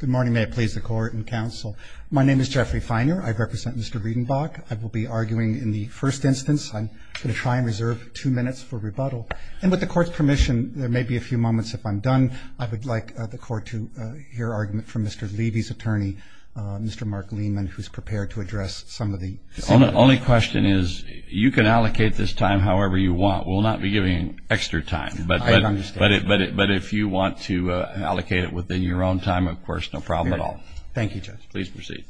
Good morning, may it please the court and counsel. My name is Jeffrey Feiner, I represent Mr. Breidenbach. I will be arguing in the first instance. I'm going to try and reserve two minutes for rebuttal. And with the court's permission, there may be a few moments if I'm done. I would like the court to hear argument from Mr. Levy's attorney, Mr. Mark Lehman, who's prepared to address some of the— The only question is you can allocate this time however you want. We'll not be giving extra time. I understand. But if you want to allocate it within your own time, of course, no problem at all. Thank you, Judge. Please proceed.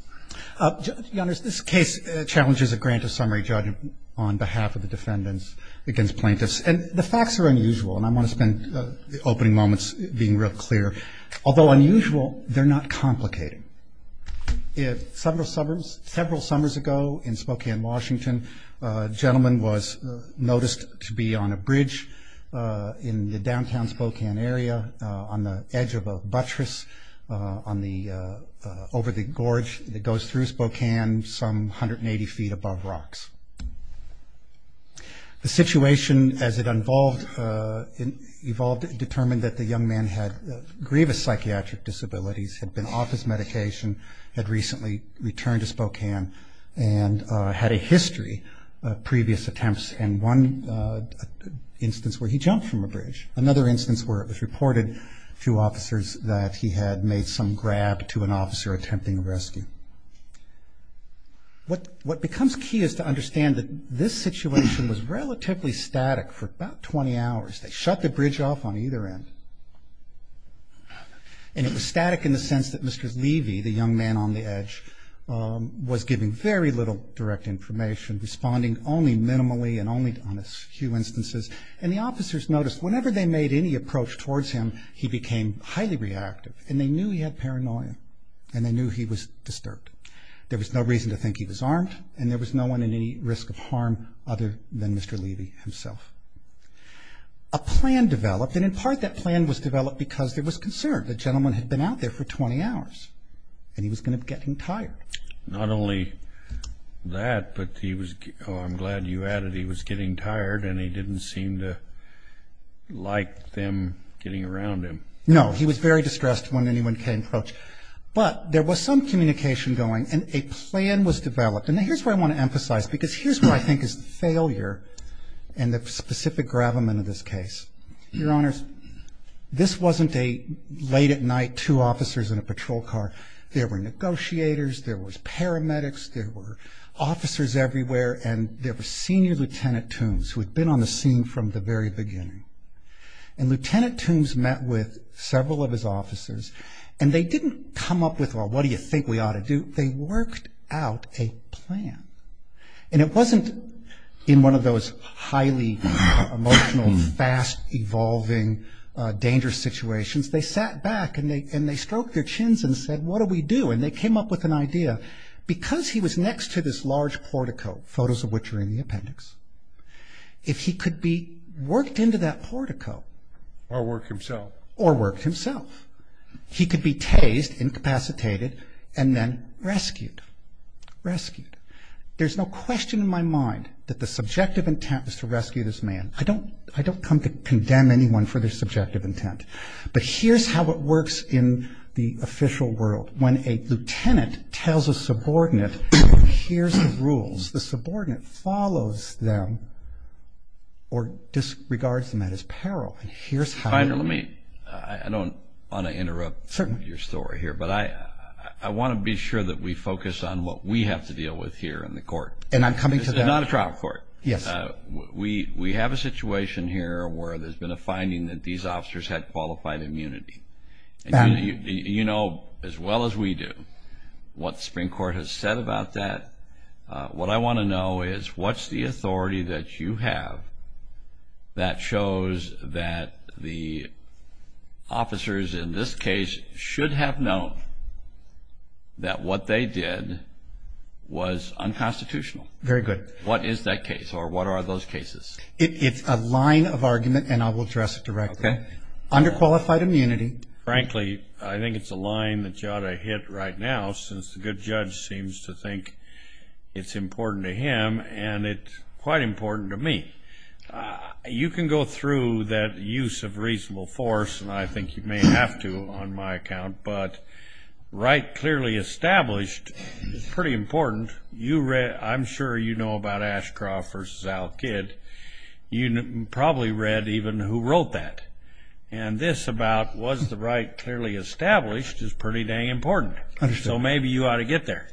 Your Honor, this case challenges a grant of summary judgment on behalf of the defendants against plaintiffs. And the facts are unusual, and I want to spend the opening moments being real clear. Although unusual, they're not complicated. Several summers ago in Spokane, Washington, a gentleman was noticed to be on a bridge in the downtown Spokane area, on the edge of a buttress over the gorge that goes through Spokane some 180 feet above rocks. The situation as it evolved determined that the young man had grievous psychiatric disabilities, had been off his medication, had recently returned to Spokane, and had a history of previous attempts, and one instance where he jumped from a bridge. Another instance where it was reported to officers that he had made some grab to an officer attempting a rescue. What becomes key is to understand that this situation was relatively static for about 20 hours. They shut the bridge off on either end. And it was static in the sense that Mr. Levy, the young man on the edge, was giving very little direct information, responding only minimally and only on a few instances. And the officers noticed whenever they made any approach towards him, he became highly reactive. And they knew he had paranoia. And they knew he was disturbed. There was no reason to think he was armed, and there was no one in any risk of harm other than Mr. Levy himself. A plan developed, and in part that plan was developed because there was concern. The gentleman had been out there for 20 hours, and he was going to get him tired. Not only that, but he was, oh, I'm glad you added he was getting tired, and he didn't seem to like them getting around him. No, he was very distressed when anyone came close. But there was some communication going, and a plan was developed. And here's where I want to emphasize, because here's where I think is the failure and the specific gravamen of this case. Your Honors, this wasn't a late at night, two officers in a patrol car. There were negotiators. There was paramedics. There were officers everywhere, and there were senior Lieutenant Toombs who had been on the scene from the very beginning. And Lieutenant Toombs met with several of his officers, and they didn't come up with, well, what do you think we ought to do? They worked out a plan. And it wasn't in one of those highly emotional, fast-evolving, dangerous situations. They sat back, and they stroked their chins and said, what do we do? And they came up with an idea. Because he was next to this large portico, photos of which are in the appendix, if he could be worked into that portico. Or work himself. Or work himself. He could be tased, incapacitated, and then rescued. Rescued. There's no question in my mind that the subjective intent was to rescue this man. I don't come to condemn anyone for their subjective intent. But here's how it works in the official world. When a lieutenant tells a subordinate, here's the rules, the subordinate follows them or disregards them at his peril. I don't want to interrupt your story here, but I want to be sure that we focus on what we have to deal with here in the court. And I'm coming to that. This is not a trial court. Yes. We have a situation here where there's been a finding that these officers had qualified immunity. You know as well as we do what the Supreme Court has said about that. What I want to know is what's the authority that you have that shows that the officers in this case should have known that what they did was unconstitutional? Very good. What is that case or what are those cases? It's a line of argument and I will address it directly. Okay. Underqualified immunity. Frankly, I think it's a line that you ought to hit right now since the good judge seems to think it's important to him and it's quite important to me. You can go through that use of reasonable force, and I think you may have to on my account, but right clearly established is pretty important. I'm sure you know about Ashcroft versus Al Kidd. You probably read even who wrote that. And this about was the right clearly established is pretty dang important. So maybe you ought to get there.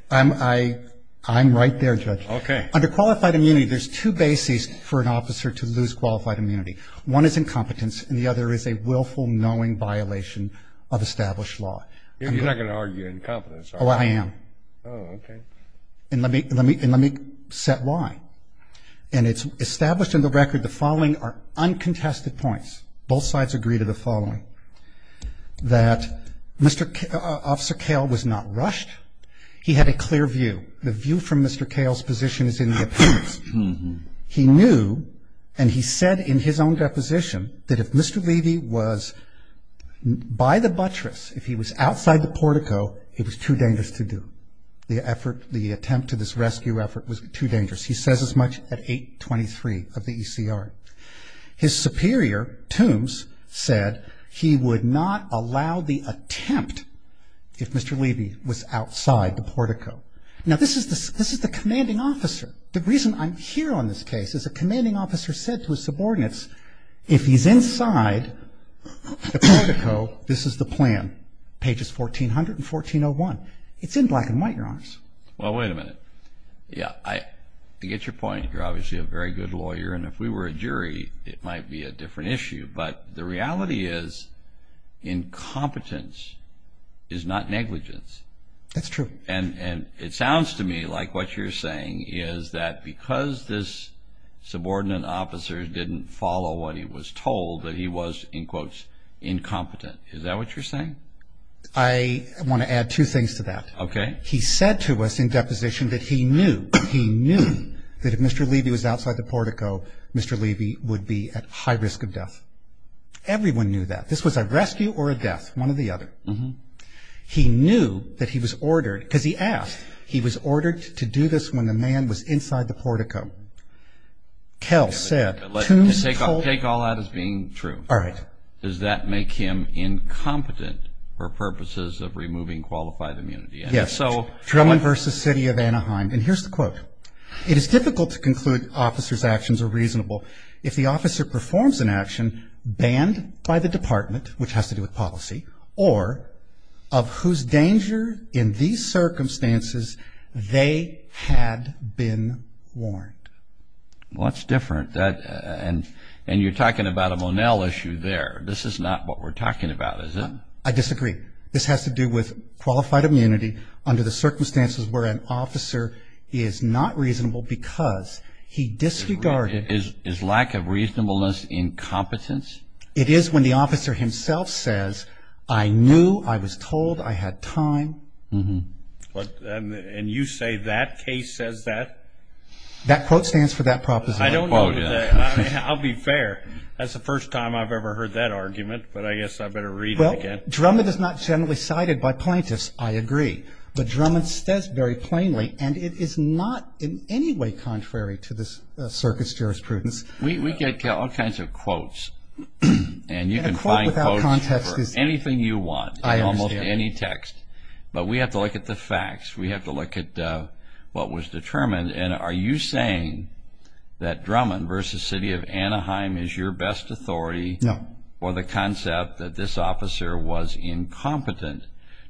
I'm right there, Judge. Okay. Underqualified immunity, there's two bases for an officer to lose qualified immunity. One is incompetence and the other is a willful knowing violation of established law. You're not going to argue incompetence, are you? Oh, I am. Oh, okay. And let me set why. Okay. Well, first of all, and it's established in the record, the following are uncontested points. Both sides agree to the following. That Mr. Officer Kale was not rushed. He had a clear view. The view from Mr. Kale's position is in the appearance. He knew and he said in his own deposition that if Mr. Levy was by the buttress, if he was outside the portico, it was too dangerous to do. The effort, the attempt to this rescue effort was too dangerous. He says as much at 823 of the ECR. His superior, Toombs, said he would not allow the attempt if Mr. Levy was outside the portico. Now, this is the commanding officer. The reason I'm here on this case is a commanding officer said to his subordinates, if he's inside the portico, this is the plan, pages 1400 and 1401. It's in black and white, Your Honors. Well, wait a minute. Yeah, I get your point. You're obviously a very good lawyer, and if we were a jury, it might be a different issue. But the reality is incompetence is not negligence. That's true. And it sounds to me like what you're saying is that because this subordinate officer didn't follow what he was told, that he was, in quotes, incompetent. Is that what you're saying? I want to add two things to that. Okay. He said to us in deposition that he knew, he knew that if Mr. Levy was outside the portico, Mr. Levy would be at high risk of death. Everyone knew that. This was a rescue or a death, one or the other. He knew that he was ordered, because he asked, he was ordered to do this when the man was inside the portico. Kel said, Take all that as being true. All right. Does that make him incompetent for purposes of removing qualified immunity? Yes. Drummond v. City of Anaheim. And here's the quote. It is difficult to conclude officer's actions are reasonable if the officer performs an action banned by the department, which has to do with policy, or of whose danger in these circumstances they had been warned. Well, that's different. And you're talking about a Monell issue there. This is not what we're talking about, is it? I disagree. This has to do with qualified immunity under the circumstances where an officer is not reasonable because he disregarded Is lack of reasonableness incompetence? It is when the officer himself says, I knew, I was told, I had time. And you say that case says that? That quote stands for that proposition. I'll be fair. That's the first time I've ever heard that argument, but I guess I better read it again. Drummond is not generally cited by plaintiffs, I agree. But Drummond says very plainly, and it is not in any way contrary to this circuit's jurisprudence. We get all kinds of quotes, and you can find quotes for anything you want in almost any text. But we have to look at the facts. We have to look at what was determined. And are you saying that Drummond v. City of Anaheim is your best authority for the concept that this officer was incompetent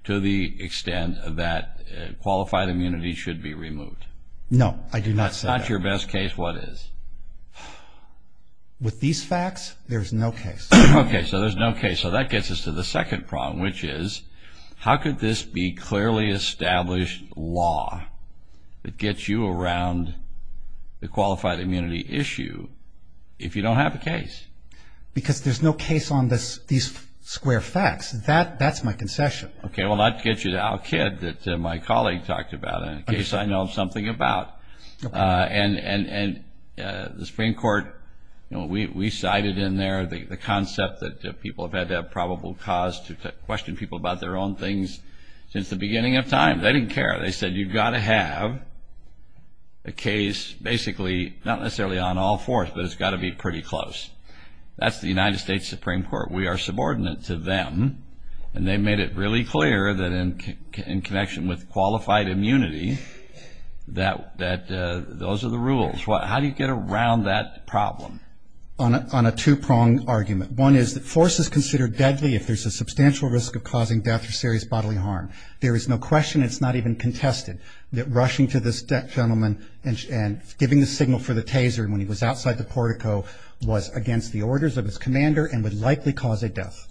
to the extent that qualified immunity should be removed? No, I do not say that. If it's not your best case, what is? With these facts, there's no case. Okay, so there's no case. So that gets us to the second problem, which is, how could this be clearly established law that gets you around the qualified immunity issue if you don't have a case? Because there's no case on these square facts. That's my concession. Okay, well, that gets you to Al Kidd that my colleague talked about, a case I know something about. And the Supreme Court, we cited in there the concept that people have had to have probable cause to question people about their own things since the beginning of time. They didn't care. They said you've got to have a case basically not necessarily on all fours, but it's got to be pretty close. That's the United States Supreme Court. We are subordinate to them. And they made it really clear that in connection with qualified immunity that those are the rules. How do you get around that problem? On a two-prong argument. One is that force is considered deadly if there's a substantial risk of causing death or serious bodily harm. There is no question, it's not even contested, that rushing to this gentleman and giving the signal for the taser when he was outside the portico was against the orders of his commander and would likely cause a death.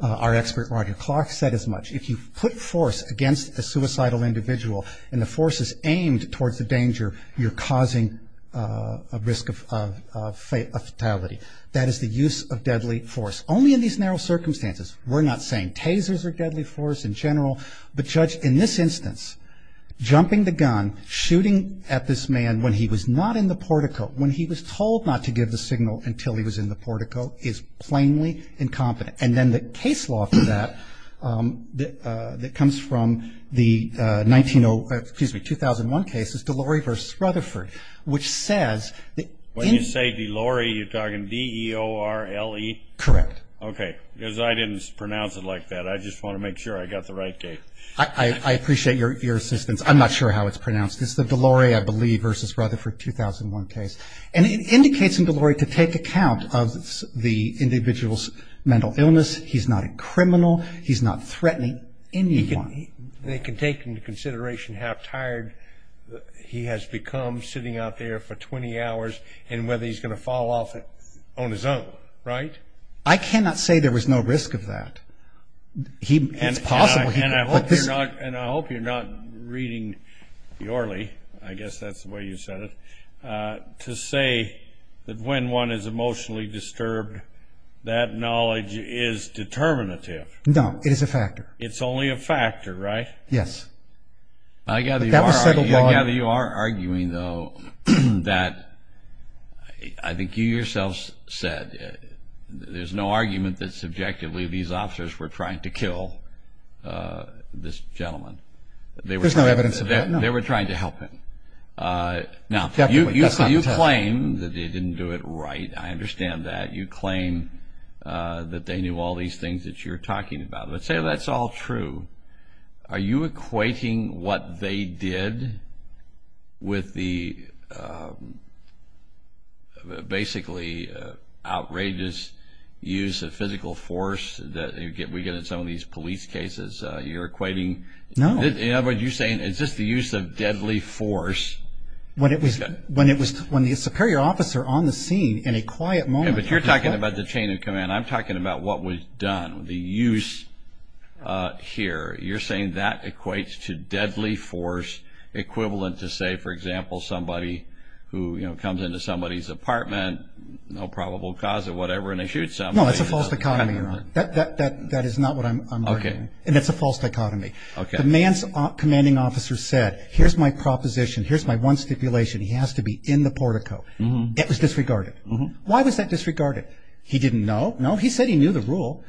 Our expert Roger Clark said as much. If you put force against a suicidal individual and the force is aimed towards the danger, you're causing a risk of fatality. That is the use of deadly force. Only in these narrow circumstances. We're not saying tasers are deadly force in general. But, Judge, in this instance, jumping the gun, shooting at this man when he was not in the portico, when he was told not to give the signal until he was in the portico, is plainly incompetent. And then the case law for that that comes from the 1901, excuse me, 2001 cases, Delorey v. Rutherford, which says... When you say Delorey, you're talking D-E-O-R-L-E? Correct. Okay. Because I didn't pronounce it like that. I just want to make sure I got the right date. I appreciate your assistance. I'm not sure how it's pronounced. It's the Delorey, I believe, v. Rutherford, 2001 case. And it indicates in Delorey to take account of the individual's mental illness. He's not a criminal. He's not threatening anyone. They can take into consideration how tired he has become sitting out there for 20 hours and whether he's going to fall off on his own, right? I cannot say there was no risk of that. It's possible. And I hope you're not reading the Orly, I guess that's the way you said it, to say that when one is emotionally disturbed, that knowledge is determinative. No, it is a factor. It's only a factor, right? Yes. I gather you are arguing, though, that I think you yourself said there's no argument that subjectively these officers were trying to kill this gentleman. There's no evidence of that, no. They were trying to help him. Now, you claim that they didn't do it right. I understand that. You claim that they knew all these things that you're talking about. Let's say that's all true. Are you equating what they did with the basically outrageous use of physical force that we get in some of these police cases? You're equating? No. In other words, you're saying it's just the use of deadly force. When the superior officer on the scene in a quiet moment. But you're talking about the chain of command. I'm talking about what was done, the use here. You're saying that equates to deadly force equivalent to, say, for example, somebody who comes into somebody's apartment, no probable cause or whatever, and they shoot somebody. No, that's a false dichotomy, Your Honor. That is not what I'm arguing. Okay. And it's a false dichotomy. Okay. The man's commanding officer said, here's my proposition. Here's my one stipulation. He has to be in the portico. It was disregarded. Why was that disregarded? He didn't know. No, he said he knew the rule.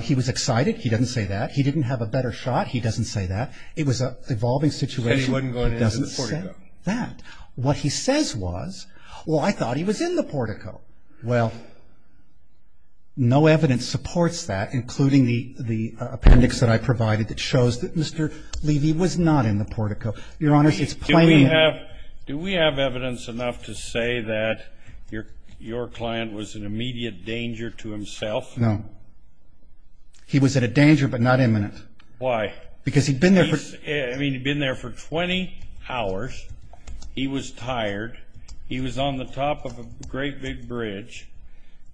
He was excited. He doesn't say that. He didn't have a better shot. He doesn't say that. It was an evolving situation. He said he wasn't going in the portico. He doesn't say that. What he says was, well, I thought he was in the portico. Well, no evidence supports that, including the appendix that I provided that shows that Mr. Levy was not in the portico. Your Honor, it's plainly not. Do we have evidence enough to say that your client was in immediate danger to himself? No. He was at a danger but not imminent. Why? Because he'd been there for 20 hours. He was tired. He was on the top of a great big bridge.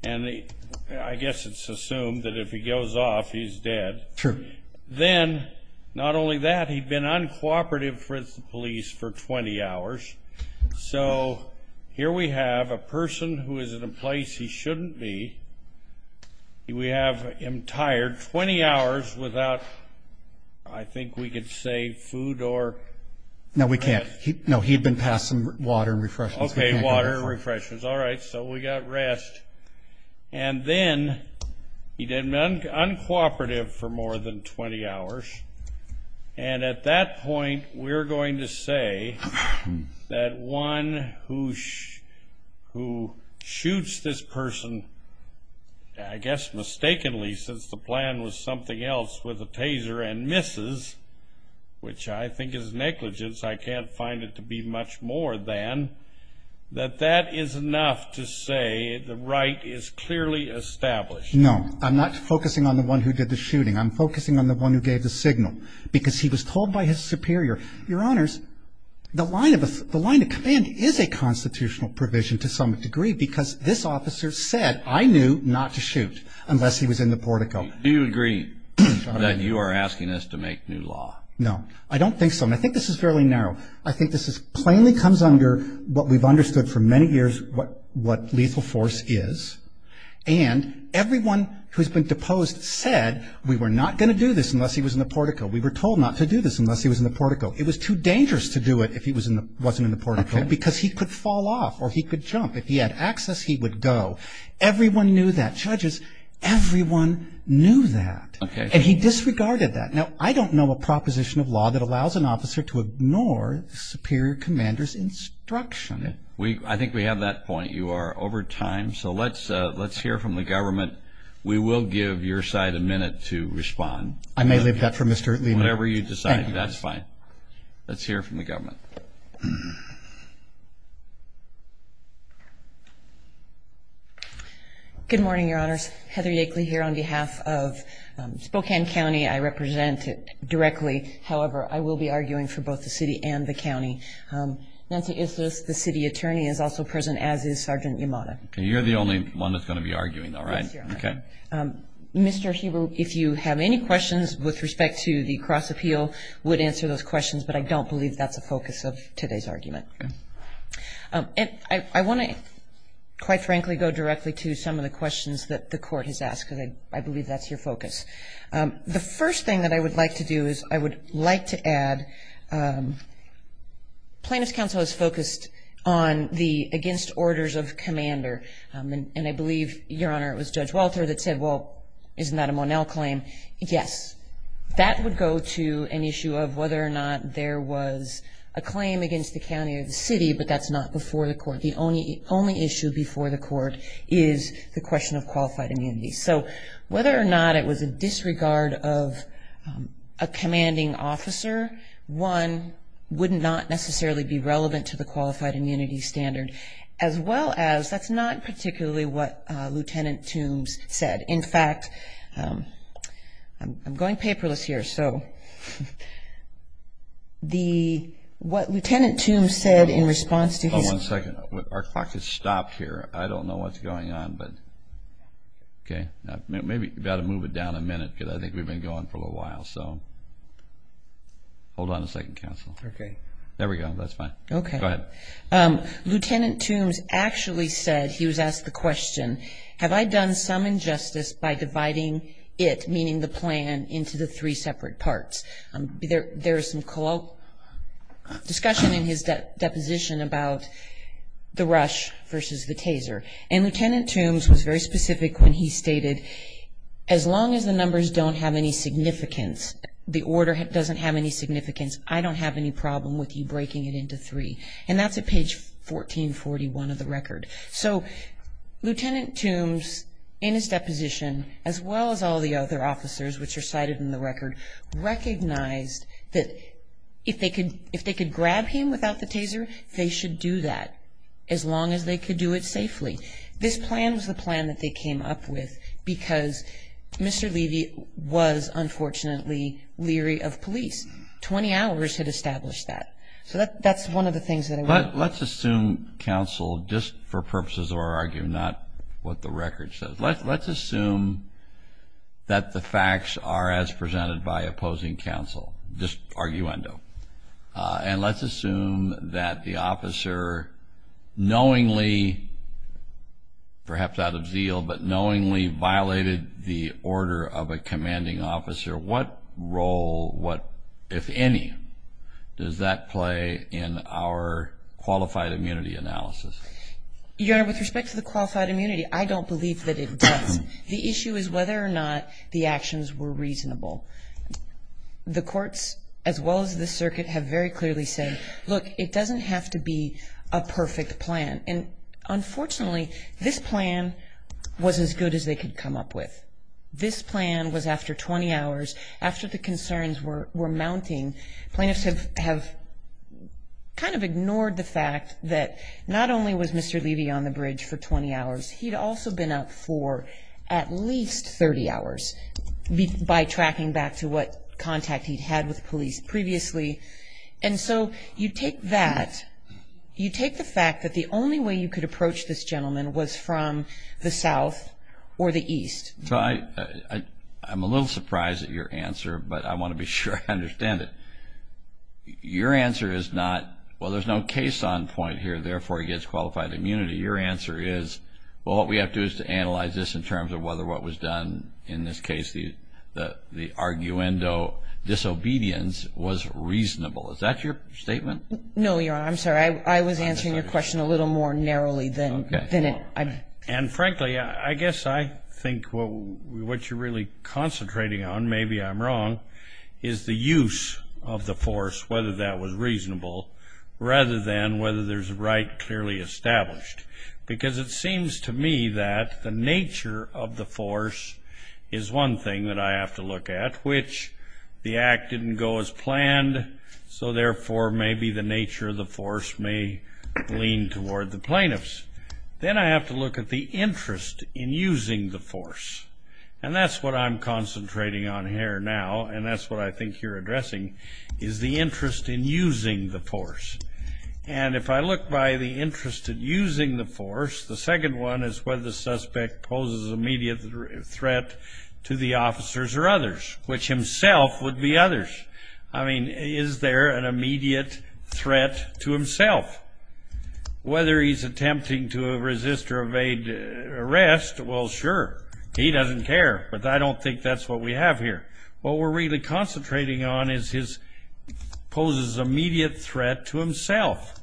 And I guess it's assumed that if he goes off, he's dead. True. Then, not only that, he'd been uncooperative with the police for 20 hours. So here we have a person who is in a place he shouldn't be. We have him tired 20 hours without, I think we could say, food or rest. No, we can't. No, he'd been passed some water and refreshments. Okay, water and refreshments. All right. So we got rest. And then he'd been uncooperative for more than 20 hours. And at that point, we're going to say that one who shoots this person, I guess mistakenly since the plan was something else with a taser and misses, which I think is negligence, I can't find it to be much more than, that that is enough to say the right is clearly established. No. I'm not focusing on the one who did the shooting. I'm focusing on the one who gave the signal because he was told by his superior, Your Honors, the line of command is a constitutional provision to some degree because this officer said, I knew not to shoot unless he was in the portico. Do you agree that you are asking us to make new law? No. I don't think so. And I think this is fairly narrow. I think this plainly comes under what we've understood for many years what lethal force is. And everyone who's been deposed said we were not going to do this unless he was in the portico. We were told not to do this unless he was in the portico. It was too dangerous to do it if he wasn't in the portico because he could fall off or he could jump. If he had access, he would go. Everyone knew that. Judges, everyone knew that. And he disregarded that. Now, I don't know a proposition of law that allows an officer to ignore the superior commander's instruction. I think we have that point. You are over time. So let's hear from the government. We will give your side a minute to respond. I may leave that for Mr. Lieber. Whatever you decide. That's fine. Let's hear from the government. Good morning, Your Honors. Heather Yakeley here on behalf of Spokane County. I represent it directly. However, I will be arguing for both the city and the county. The city attorney is also present, as is Sergeant Yamada. You're the only one that's going to be arguing, though, right? Yes, Your Honor. Okay. Mr. Heber, if you have any questions with respect to the cross-appeal, would answer those questions. But I don't believe that's the focus of today's argument. I want to, quite frankly, go directly to some of the questions that the Court has asked, because I believe that's your focus. The first thing that I would like to do is I would like to add plaintiff's counsel is focused on the against orders of commander. And I believe, Your Honor, it was Judge Walter that said, well, isn't that a Monell claim? Yes. That would go to an issue of whether or not there was a claim against the county or the city, but that's not before the court. The only issue before the court is the question of qualified immunity. So whether or not it was a disregard of a commanding officer, one, would not necessarily be relevant to the qualified immunity standard, as well as that's not particularly what Lieutenant Toombs said. In fact, I'm going paperless here, so what Lieutenant Toombs said in response to his- Hold on one second. Our clock has stopped here. I don't know what's going on, but okay. Maybe you've got to move it down a minute, because I think we've been going for a little while. So hold on a second, counsel. Okay. There we go. That's fine. Okay. Go ahead. Lieutenant Toombs actually said, he was asked the question, have I done some injustice by dividing it, meaning the plan, into the three separate parts? There is some colloquial discussion in his deposition about the rush versus the taser. And Lieutenant Toombs was very specific when he stated, as long as the numbers don't have any significance, the order doesn't have any significance, I don't have any problem with you breaking it into three. And that's at page 1441 of the record. So Lieutenant Toombs, in his deposition, as well as all the other officers which are cited in the record, recognized that if they could grab him without the taser, they should do that, as long as they could do it safely. This plan was the plan that they came up with because Mr. Levy was, unfortunately, leery of police. 20 hours had established that. So that's one of the things that I want to- Let's assume counsel, just for purposes of our argument, not what the record says, let's assume that the facts are as presented by opposing counsel, just arguendo. And let's assume that the officer knowingly, perhaps out of zeal, but knowingly violated the order of a commanding officer. What role, if any, does that play in our qualified immunity analysis? Your Honor, with respect to the qualified immunity, I don't believe that it does. The issue is whether or not the actions were reasonable. The courts, as well as the circuit, have very clearly said, look, it doesn't have to be a perfect plan. And unfortunately, this plan was as good as they could come up with. This plan was after 20 hours, after the concerns were mounting. Plaintiffs have kind of ignored the fact that not only was Mr. Levy on the bridge for 20 hours, he'd also been up for at least 30 hours by tracking back to what contact he'd had with police previously. And so you take that, you take the fact that the only way you could approach this gentleman was from the south or the east. So I'm a little surprised at your answer, but I want to be sure I understand it. Your answer is not, well, there's no case on point here, therefore he gets qualified immunity. Your answer is, well, what we have to do is to analyze this in terms of whether what was done, in this case, the arguendo disobedience was reasonable. Is that your statement? No, Your Honor. I'm sorry. I was answering your question a little more narrowly than it. And frankly, I guess I think what you're really concentrating on, maybe I'm wrong, is the use of the force, whether that was reasonable, rather than whether there's a right clearly established. Because it seems to me that the nature of the force is one thing that I have to look at, which the act didn't go as planned, so therefore maybe the nature of the force may lean toward the plaintiffs. Then I have to look at the interest in using the force. And that's what I'm concentrating on here now, and that's what I think you're addressing, is the interest in using the force. And if I look by the interest in using the force, the second one is whether the suspect poses immediate threat to the officers or others, which himself would be others. I mean, is there an immediate threat to himself? Whether he's attempting to resist or evade arrest, well, sure. He doesn't care, but I don't think that's what we have here. What we're really concentrating on is he poses immediate threat to himself.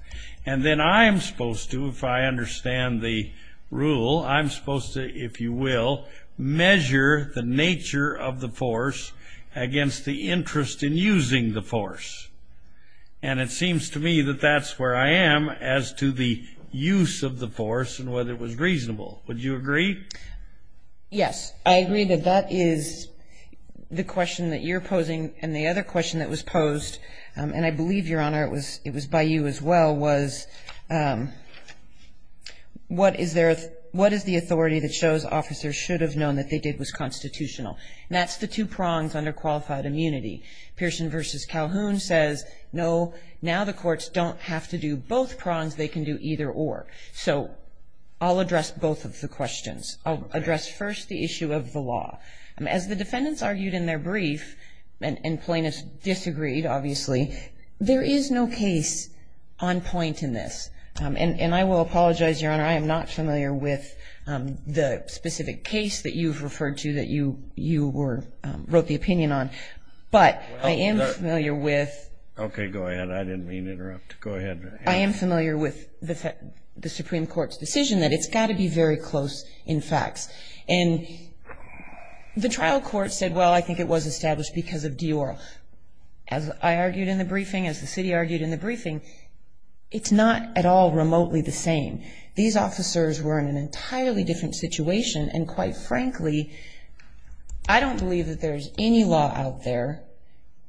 And then I'm supposed to, if I understand the rule, I'm supposed to, if you will, measure the nature of the force against the interest in using the force. And it seems to me that that's where I am as to the use of the force and whether it was reasonable. Would you agree? Yes, I agree that that is the question that you're posing. And the other question that was posed, and I believe, Your Honor, it was by you as well, was what is the authority that shows officers should have known that they did was constitutional? And that's the two prongs under qualified immunity. Pearson v. Calhoun says, no, now the courts don't have to do both prongs. They can do either or. So I'll address both of the questions. I'll address first the issue of the law. As the defendants argued in their brief, and plaintiffs disagreed, obviously, there is no case on point in this. And I will apologize, Your Honor, I am not familiar with the specific case that you've referred to that you wrote the opinion on. But I am familiar with. Okay, go ahead. I didn't mean to interrupt. Go ahead. I am familiar with the Supreme Court's decision that it's got to be very close in facts. And the trial court said, well, I think it was established because of Dior. As I argued in the briefing, as the city argued in the briefing, it's not at all remotely the same. These officers were in an entirely different situation. And quite frankly, I don't believe that there's any law out there,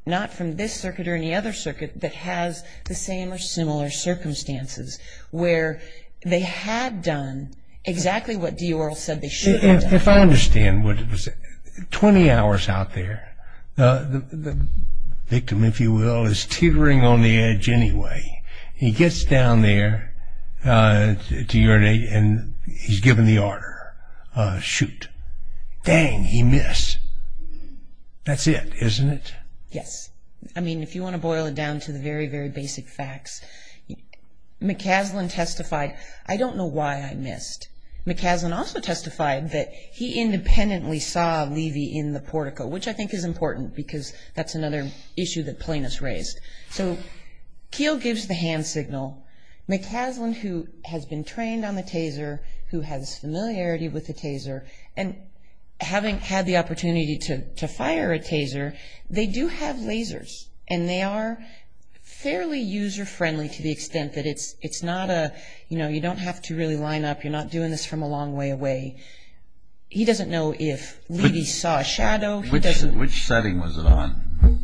not from this circuit or any other circuit, that has the same or similar circumstances where they had done exactly what Dior said they should have done. If I understand what it was, 20 hours out there, the victim, if you will, is teetering on the edge anyway. He gets down there to urinate and he's given the order, shoot. Dang, he missed. That's it, isn't it? Yes. I mean, if you want to boil it down to the very, very basic facts, McCaslin testified, I don't know why I missed. McCaslin also testified that he independently saw Levy in the portico, which I think is important because that's another issue that plaintiffs raised. So Keel gives the hand signal. McCaslin, who has been trained on the Taser, who has familiarity with the Taser, and having had the opportunity to fire a Taser, they do have lasers, and they are fairly user-friendly to the extent that it's not a, you know, you don't have to really line up. You're not doing this from a long way away. He doesn't know if Levy saw a shadow. Which setting was it on?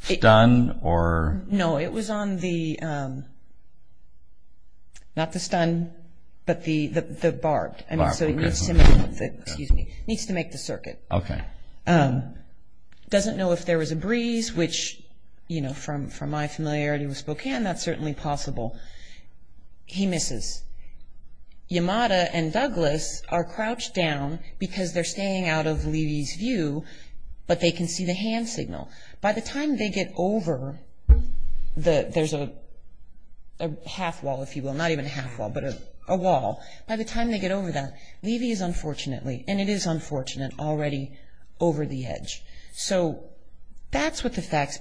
Stun or? No, it was on the, not the stun, but the barbed. I mean, so he needs to make the, excuse me, needs to make the circuit. Okay. Doesn't know if there was a breeze, which, you know, from my familiarity with Spokane, that's certainly possible. He misses. Yamada and Douglas are crouched down because they're staying out of Levy's view, but they can see the hand signal. By the time they get over the, there's a half wall, if you will, not even a half wall, but a wall. By the time they get over that, Levy is unfortunately, and it is unfortunate, already over the edge. So that's what the facts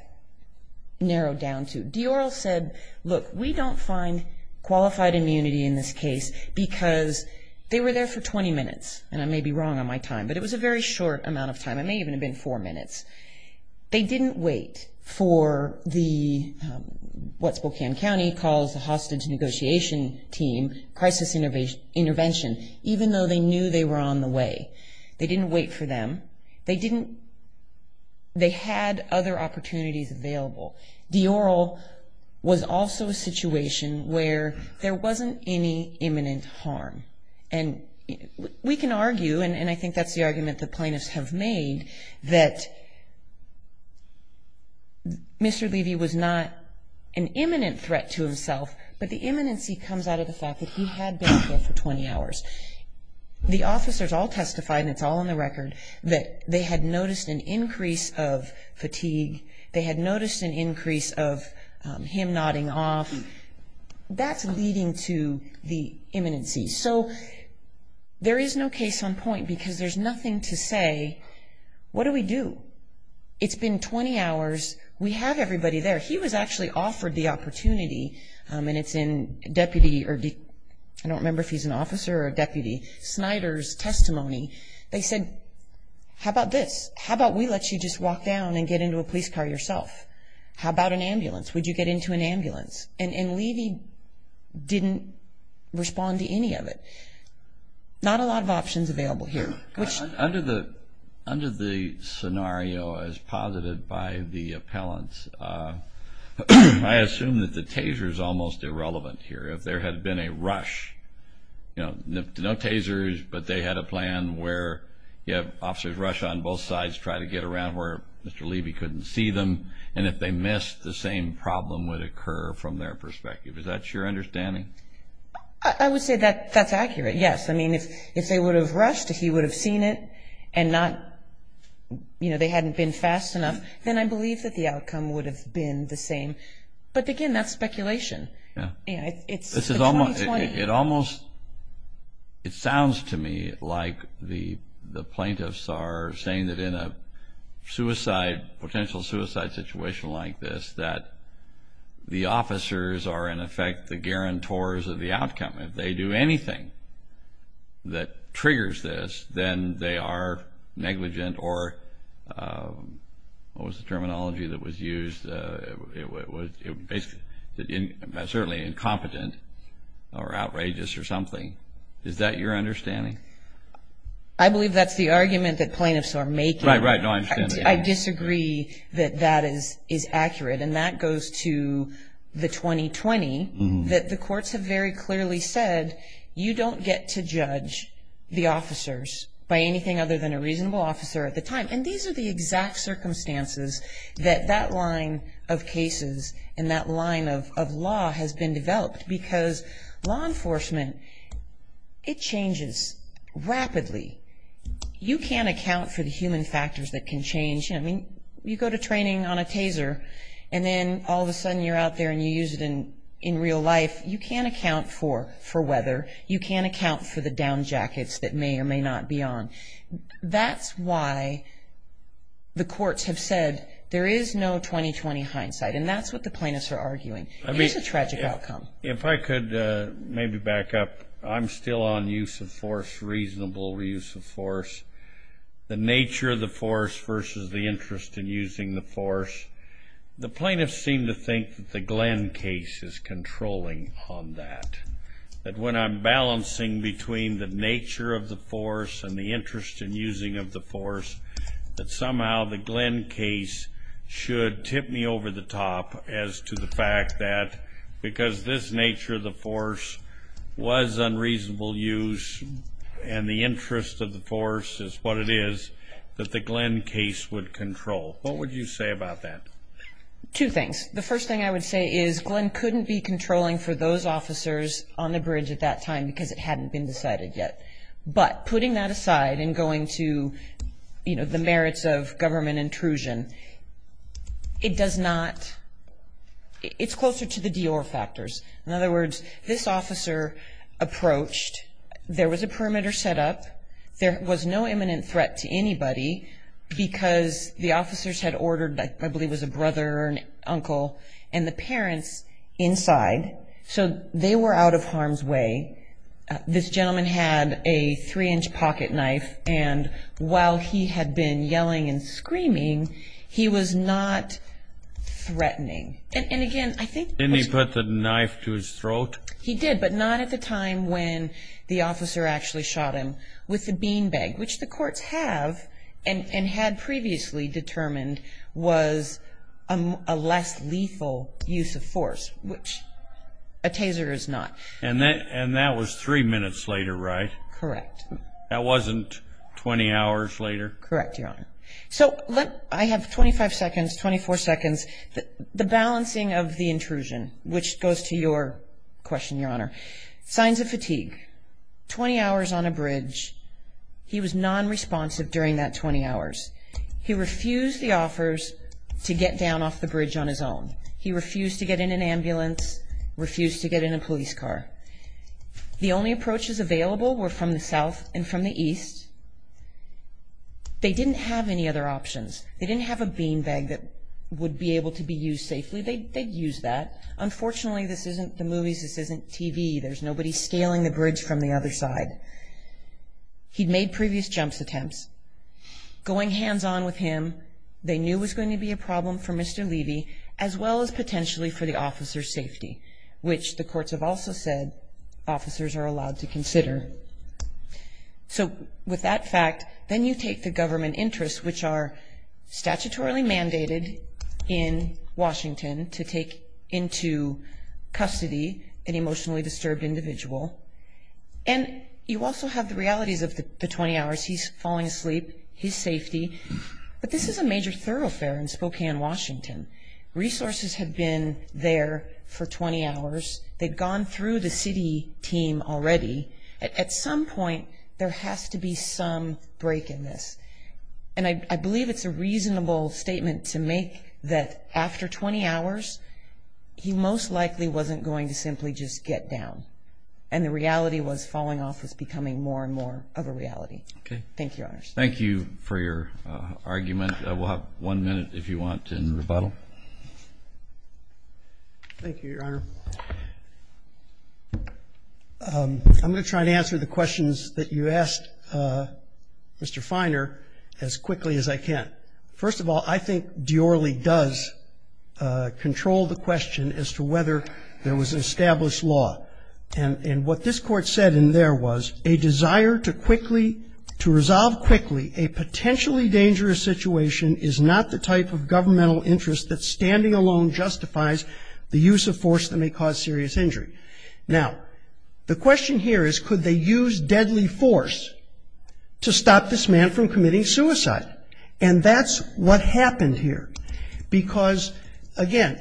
narrowed down to. Dior said, look, we don't find qualified immunity in this case because they were there for 20 minutes, and I may be wrong on my time, but it was a very short amount of time. It may even have been four minutes. They didn't wait for the, what Spokane County calls the hostage negotiation team, crisis intervention, even though they knew they were on the way. They didn't wait for them. They didn't, they had other opportunities available. Dior was also a situation where there wasn't any imminent harm. And we can argue, and I think that's the argument the plaintiffs have made, that Mr. Levy was not an imminent threat to himself, but the imminency comes out of the fact that he had been there for 20 hours. The officers all testified, and it's all on the record, that they had noticed an increase of fatigue. They had noticed an increase of him nodding off. That's leading to the imminency. So there is no case on point because there's nothing to say, what do we do? It's been 20 hours. We have everybody there. He was actually offered the opportunity, and it's in Deputy, I don't remember if he's an officer or a deputy, Snyder's testimony. They said, how about this? How about we let you just walk down and get into a police car yourself? How about an ambulance? Would you get into an ambulance? And Levy didn't respond to any of it. Not a lot of options available here. Under the scenario as posited by the appellants, I assume that the taser is almost irrelevant here. If there had been a rush, you know, no tasers, but they had a plan where you have officers rush on both sides, try to get around where Mr. Levy couldn't see them. And if they missed, the same problem would occur from their perspective. Is that your understanding? I would say that that's accurate, yes. I mean, if they would have rushed, if he would have seen it, and not, you know, they hadn't been fast enough, then I believe that the outcome would have been the same. But, again, that's speculation. It sounds to me like the plaintiffs are saying that in a suicide, potential suicide situation like this, that the officers are, in effect, the guarantors of the outcome. If they do anything that triggers this, then they are negligent, or what was the terminology that was used? It was certainly incompetent or outrageous or something. Is that your understanding? I believe that's the argument that plaintiffs are making. Right, right. No, I understand that. I disagree that that is accurate. And that goes to the 2020, that the courts have very clearly said, you don't get to judge the officers by anything other than a reasonable officer at the time. And these are the exact circumstances that that line of cases and that line of law has been developed. Because law enforcement, it changes rapidly. You can't account for the human factors that can change. I mean, you go to training on a taser, and then all of a sudden you're out there and you use it in real life. You can't account for weather. You can't account for the down jackets that may or may not be on. That's why the courts have said there is no 2020 hindsight, and that's what the plaintiffs are arguing. Here's a tragic outcome. If I could maybe back up. I'm still on use of force, reasonable use of force, the nature of the force versus the interest in using the force. The plaintiffs seem to think that the Glenn case is controlling on that, that when I'm balancing between the nature of the force and the interest in using of the force, that somehow the Glenn case should tip me over the top as to the fact that, because this nature of the force was unreasonable use and the interest of the force is what it is, that the Glenn case would control. What would you say about that? Two things. The first thing I would say is Glenn couldn't be controlling for those officers on the bridge at that time because it hadn't been decided yet. But putting that aside and going to, you know, the merits of government intrusion, it does not, it's closer to the Dior factors. In other words, this officer approached, there was a perimeter set up, there was no imminent threat to anybody because the officers had ordered, I believe it was a brother or an uncle, and the parents inside, so they were out of harm's way. This gentleman had a three-inch pocket knife and while he had been yelling and screaming, he was not threatening. And, again, I think... Didn't he put the knife to his throat? He did, but not at the time when the officer actually shot him with the bean bag, which the courts have and had previously determined was a less lethal use of force, which a taser is not. And that was three minutes later, right? Correct. That wasn't 20 hours later? Correct, Your Honor. So I have 25 seconds, 24 seconds, the balancing of the intrusion, which goes to your question, Your Honor. Signs of fatigue. Twenty hours on a bridge. He was nonresponsive during that 20 hours. He refused the offers to get down off the bridge on his own. He refused to get in an ambulance, refused to get in a police car. The only approaches available were from the south and from the east. They didn't have any other options. They didn't have a bean bag that would be able to be used safely. They'd use that. Unfortunately, this isn't the movies, this isn't TV. There's nobody scaling the bridge from the other side. He'd made previous jumps attempts. Going hands-on with him, they knew it was going to be a problem for Mr. Levy, as well as potentially for the officer's safety, which the courts have also said officers are allowed to consider. So with that fact, then you take the government interests, which are statutorily mandated in Washington, to take into custody an emotionally disturbed individual. And you also have the realities of the 20 hours. He's falling asleep, his safety. But this is a major thoroughfare in Spokane, Washington. Resources have been there for 20 hours. They've gone through the city team already. At some point, there has to be some break in this. And I believe it's a reasonable statement to make that after 20 hours, he most likely wasn't going to simply just get down. And the reality was falling off was becoming more and more of a reality. Thank you, Your Honors. Thank you for your argument. We'll have one minute, if you want, in rebuttal. Thank you, Your Honor. I'm going to try to answer the questions that you asked, Mr. Feiner, as quickly as I can. First of all, I think Diorre does control the question as to whether there was an established law. And what this Court said in there was, a desire to quickly to resolve quickly a potentially dangerous situation is not the type of governmental interest that standing alone justifies the use of force that may cause serious injury. Now, the question here is, could they use deadly force to stop this man from committing suicide? And that's what happened here. Because, again,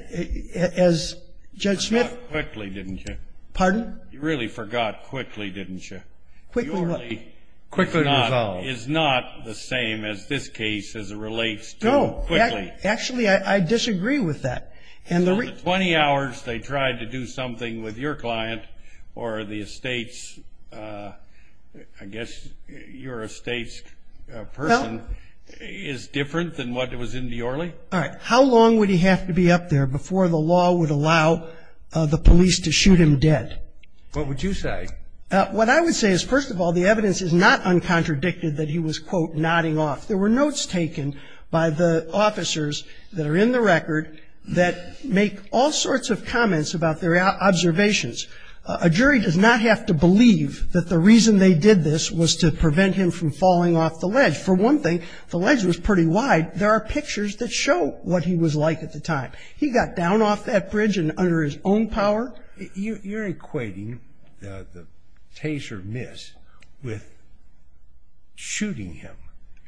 as Judge Smith ---- You forgot quickly, didn't you? Pardon? You really forgot quickly, didn't you? Quickly what? Diorre is not the same as this case as it relates to quickly. Actually, I disagree with that. In the 20 hours they tried to do something with your client or the estate's ---- I guess your estate's person is different than what was in Diorre? All right. How long would he have to be up there before the law would allow the police to shoot him dead? What would you say? What I would say is, first of all, the evidence is not uncontradicted that he was, quote, nodding off. There were notes taken by the officers that are in the record that make all sorts of comments about their observations. A jury does not have to believe that the reason they did this was to prevent him from falling off the ledge. For one thing, the ledge was pretty wide. There are pictures that show what he was like at the time. He got down off that bridge and under his own power. You're equating the taser miss with shooting him.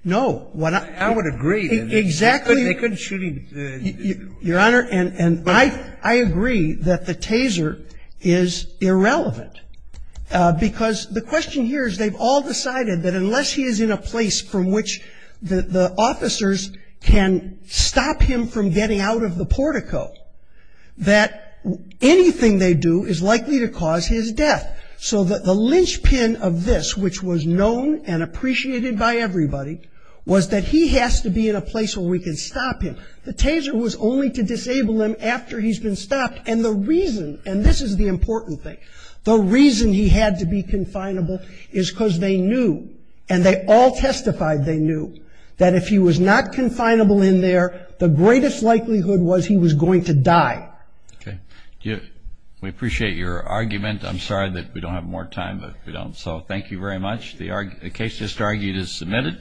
No. I would agree. Exactly. They couldn't shoot him. Your Honor, and I agree that the taser is irrelevant. Because the question here is they've all decided that unless he is in a place from which the officers can stop him from getting out of the portico, that anything they do is likely to cause his death. So the linchpin of this, which was known and appreciated by everybody, was that he has to be in a place where we can stop him. The taser was only to disable him after he's been stopped. And the reason, and this is the important thing, the reason he had to be confinable is because they knew and they all testified they knew that if he was not confinable in there, the greatest likelihood was he was going to die. Okay. We appreciate your argument. I'm sorry that we don't have more time, but we don't. So thank you very much. The case just argued is submitted.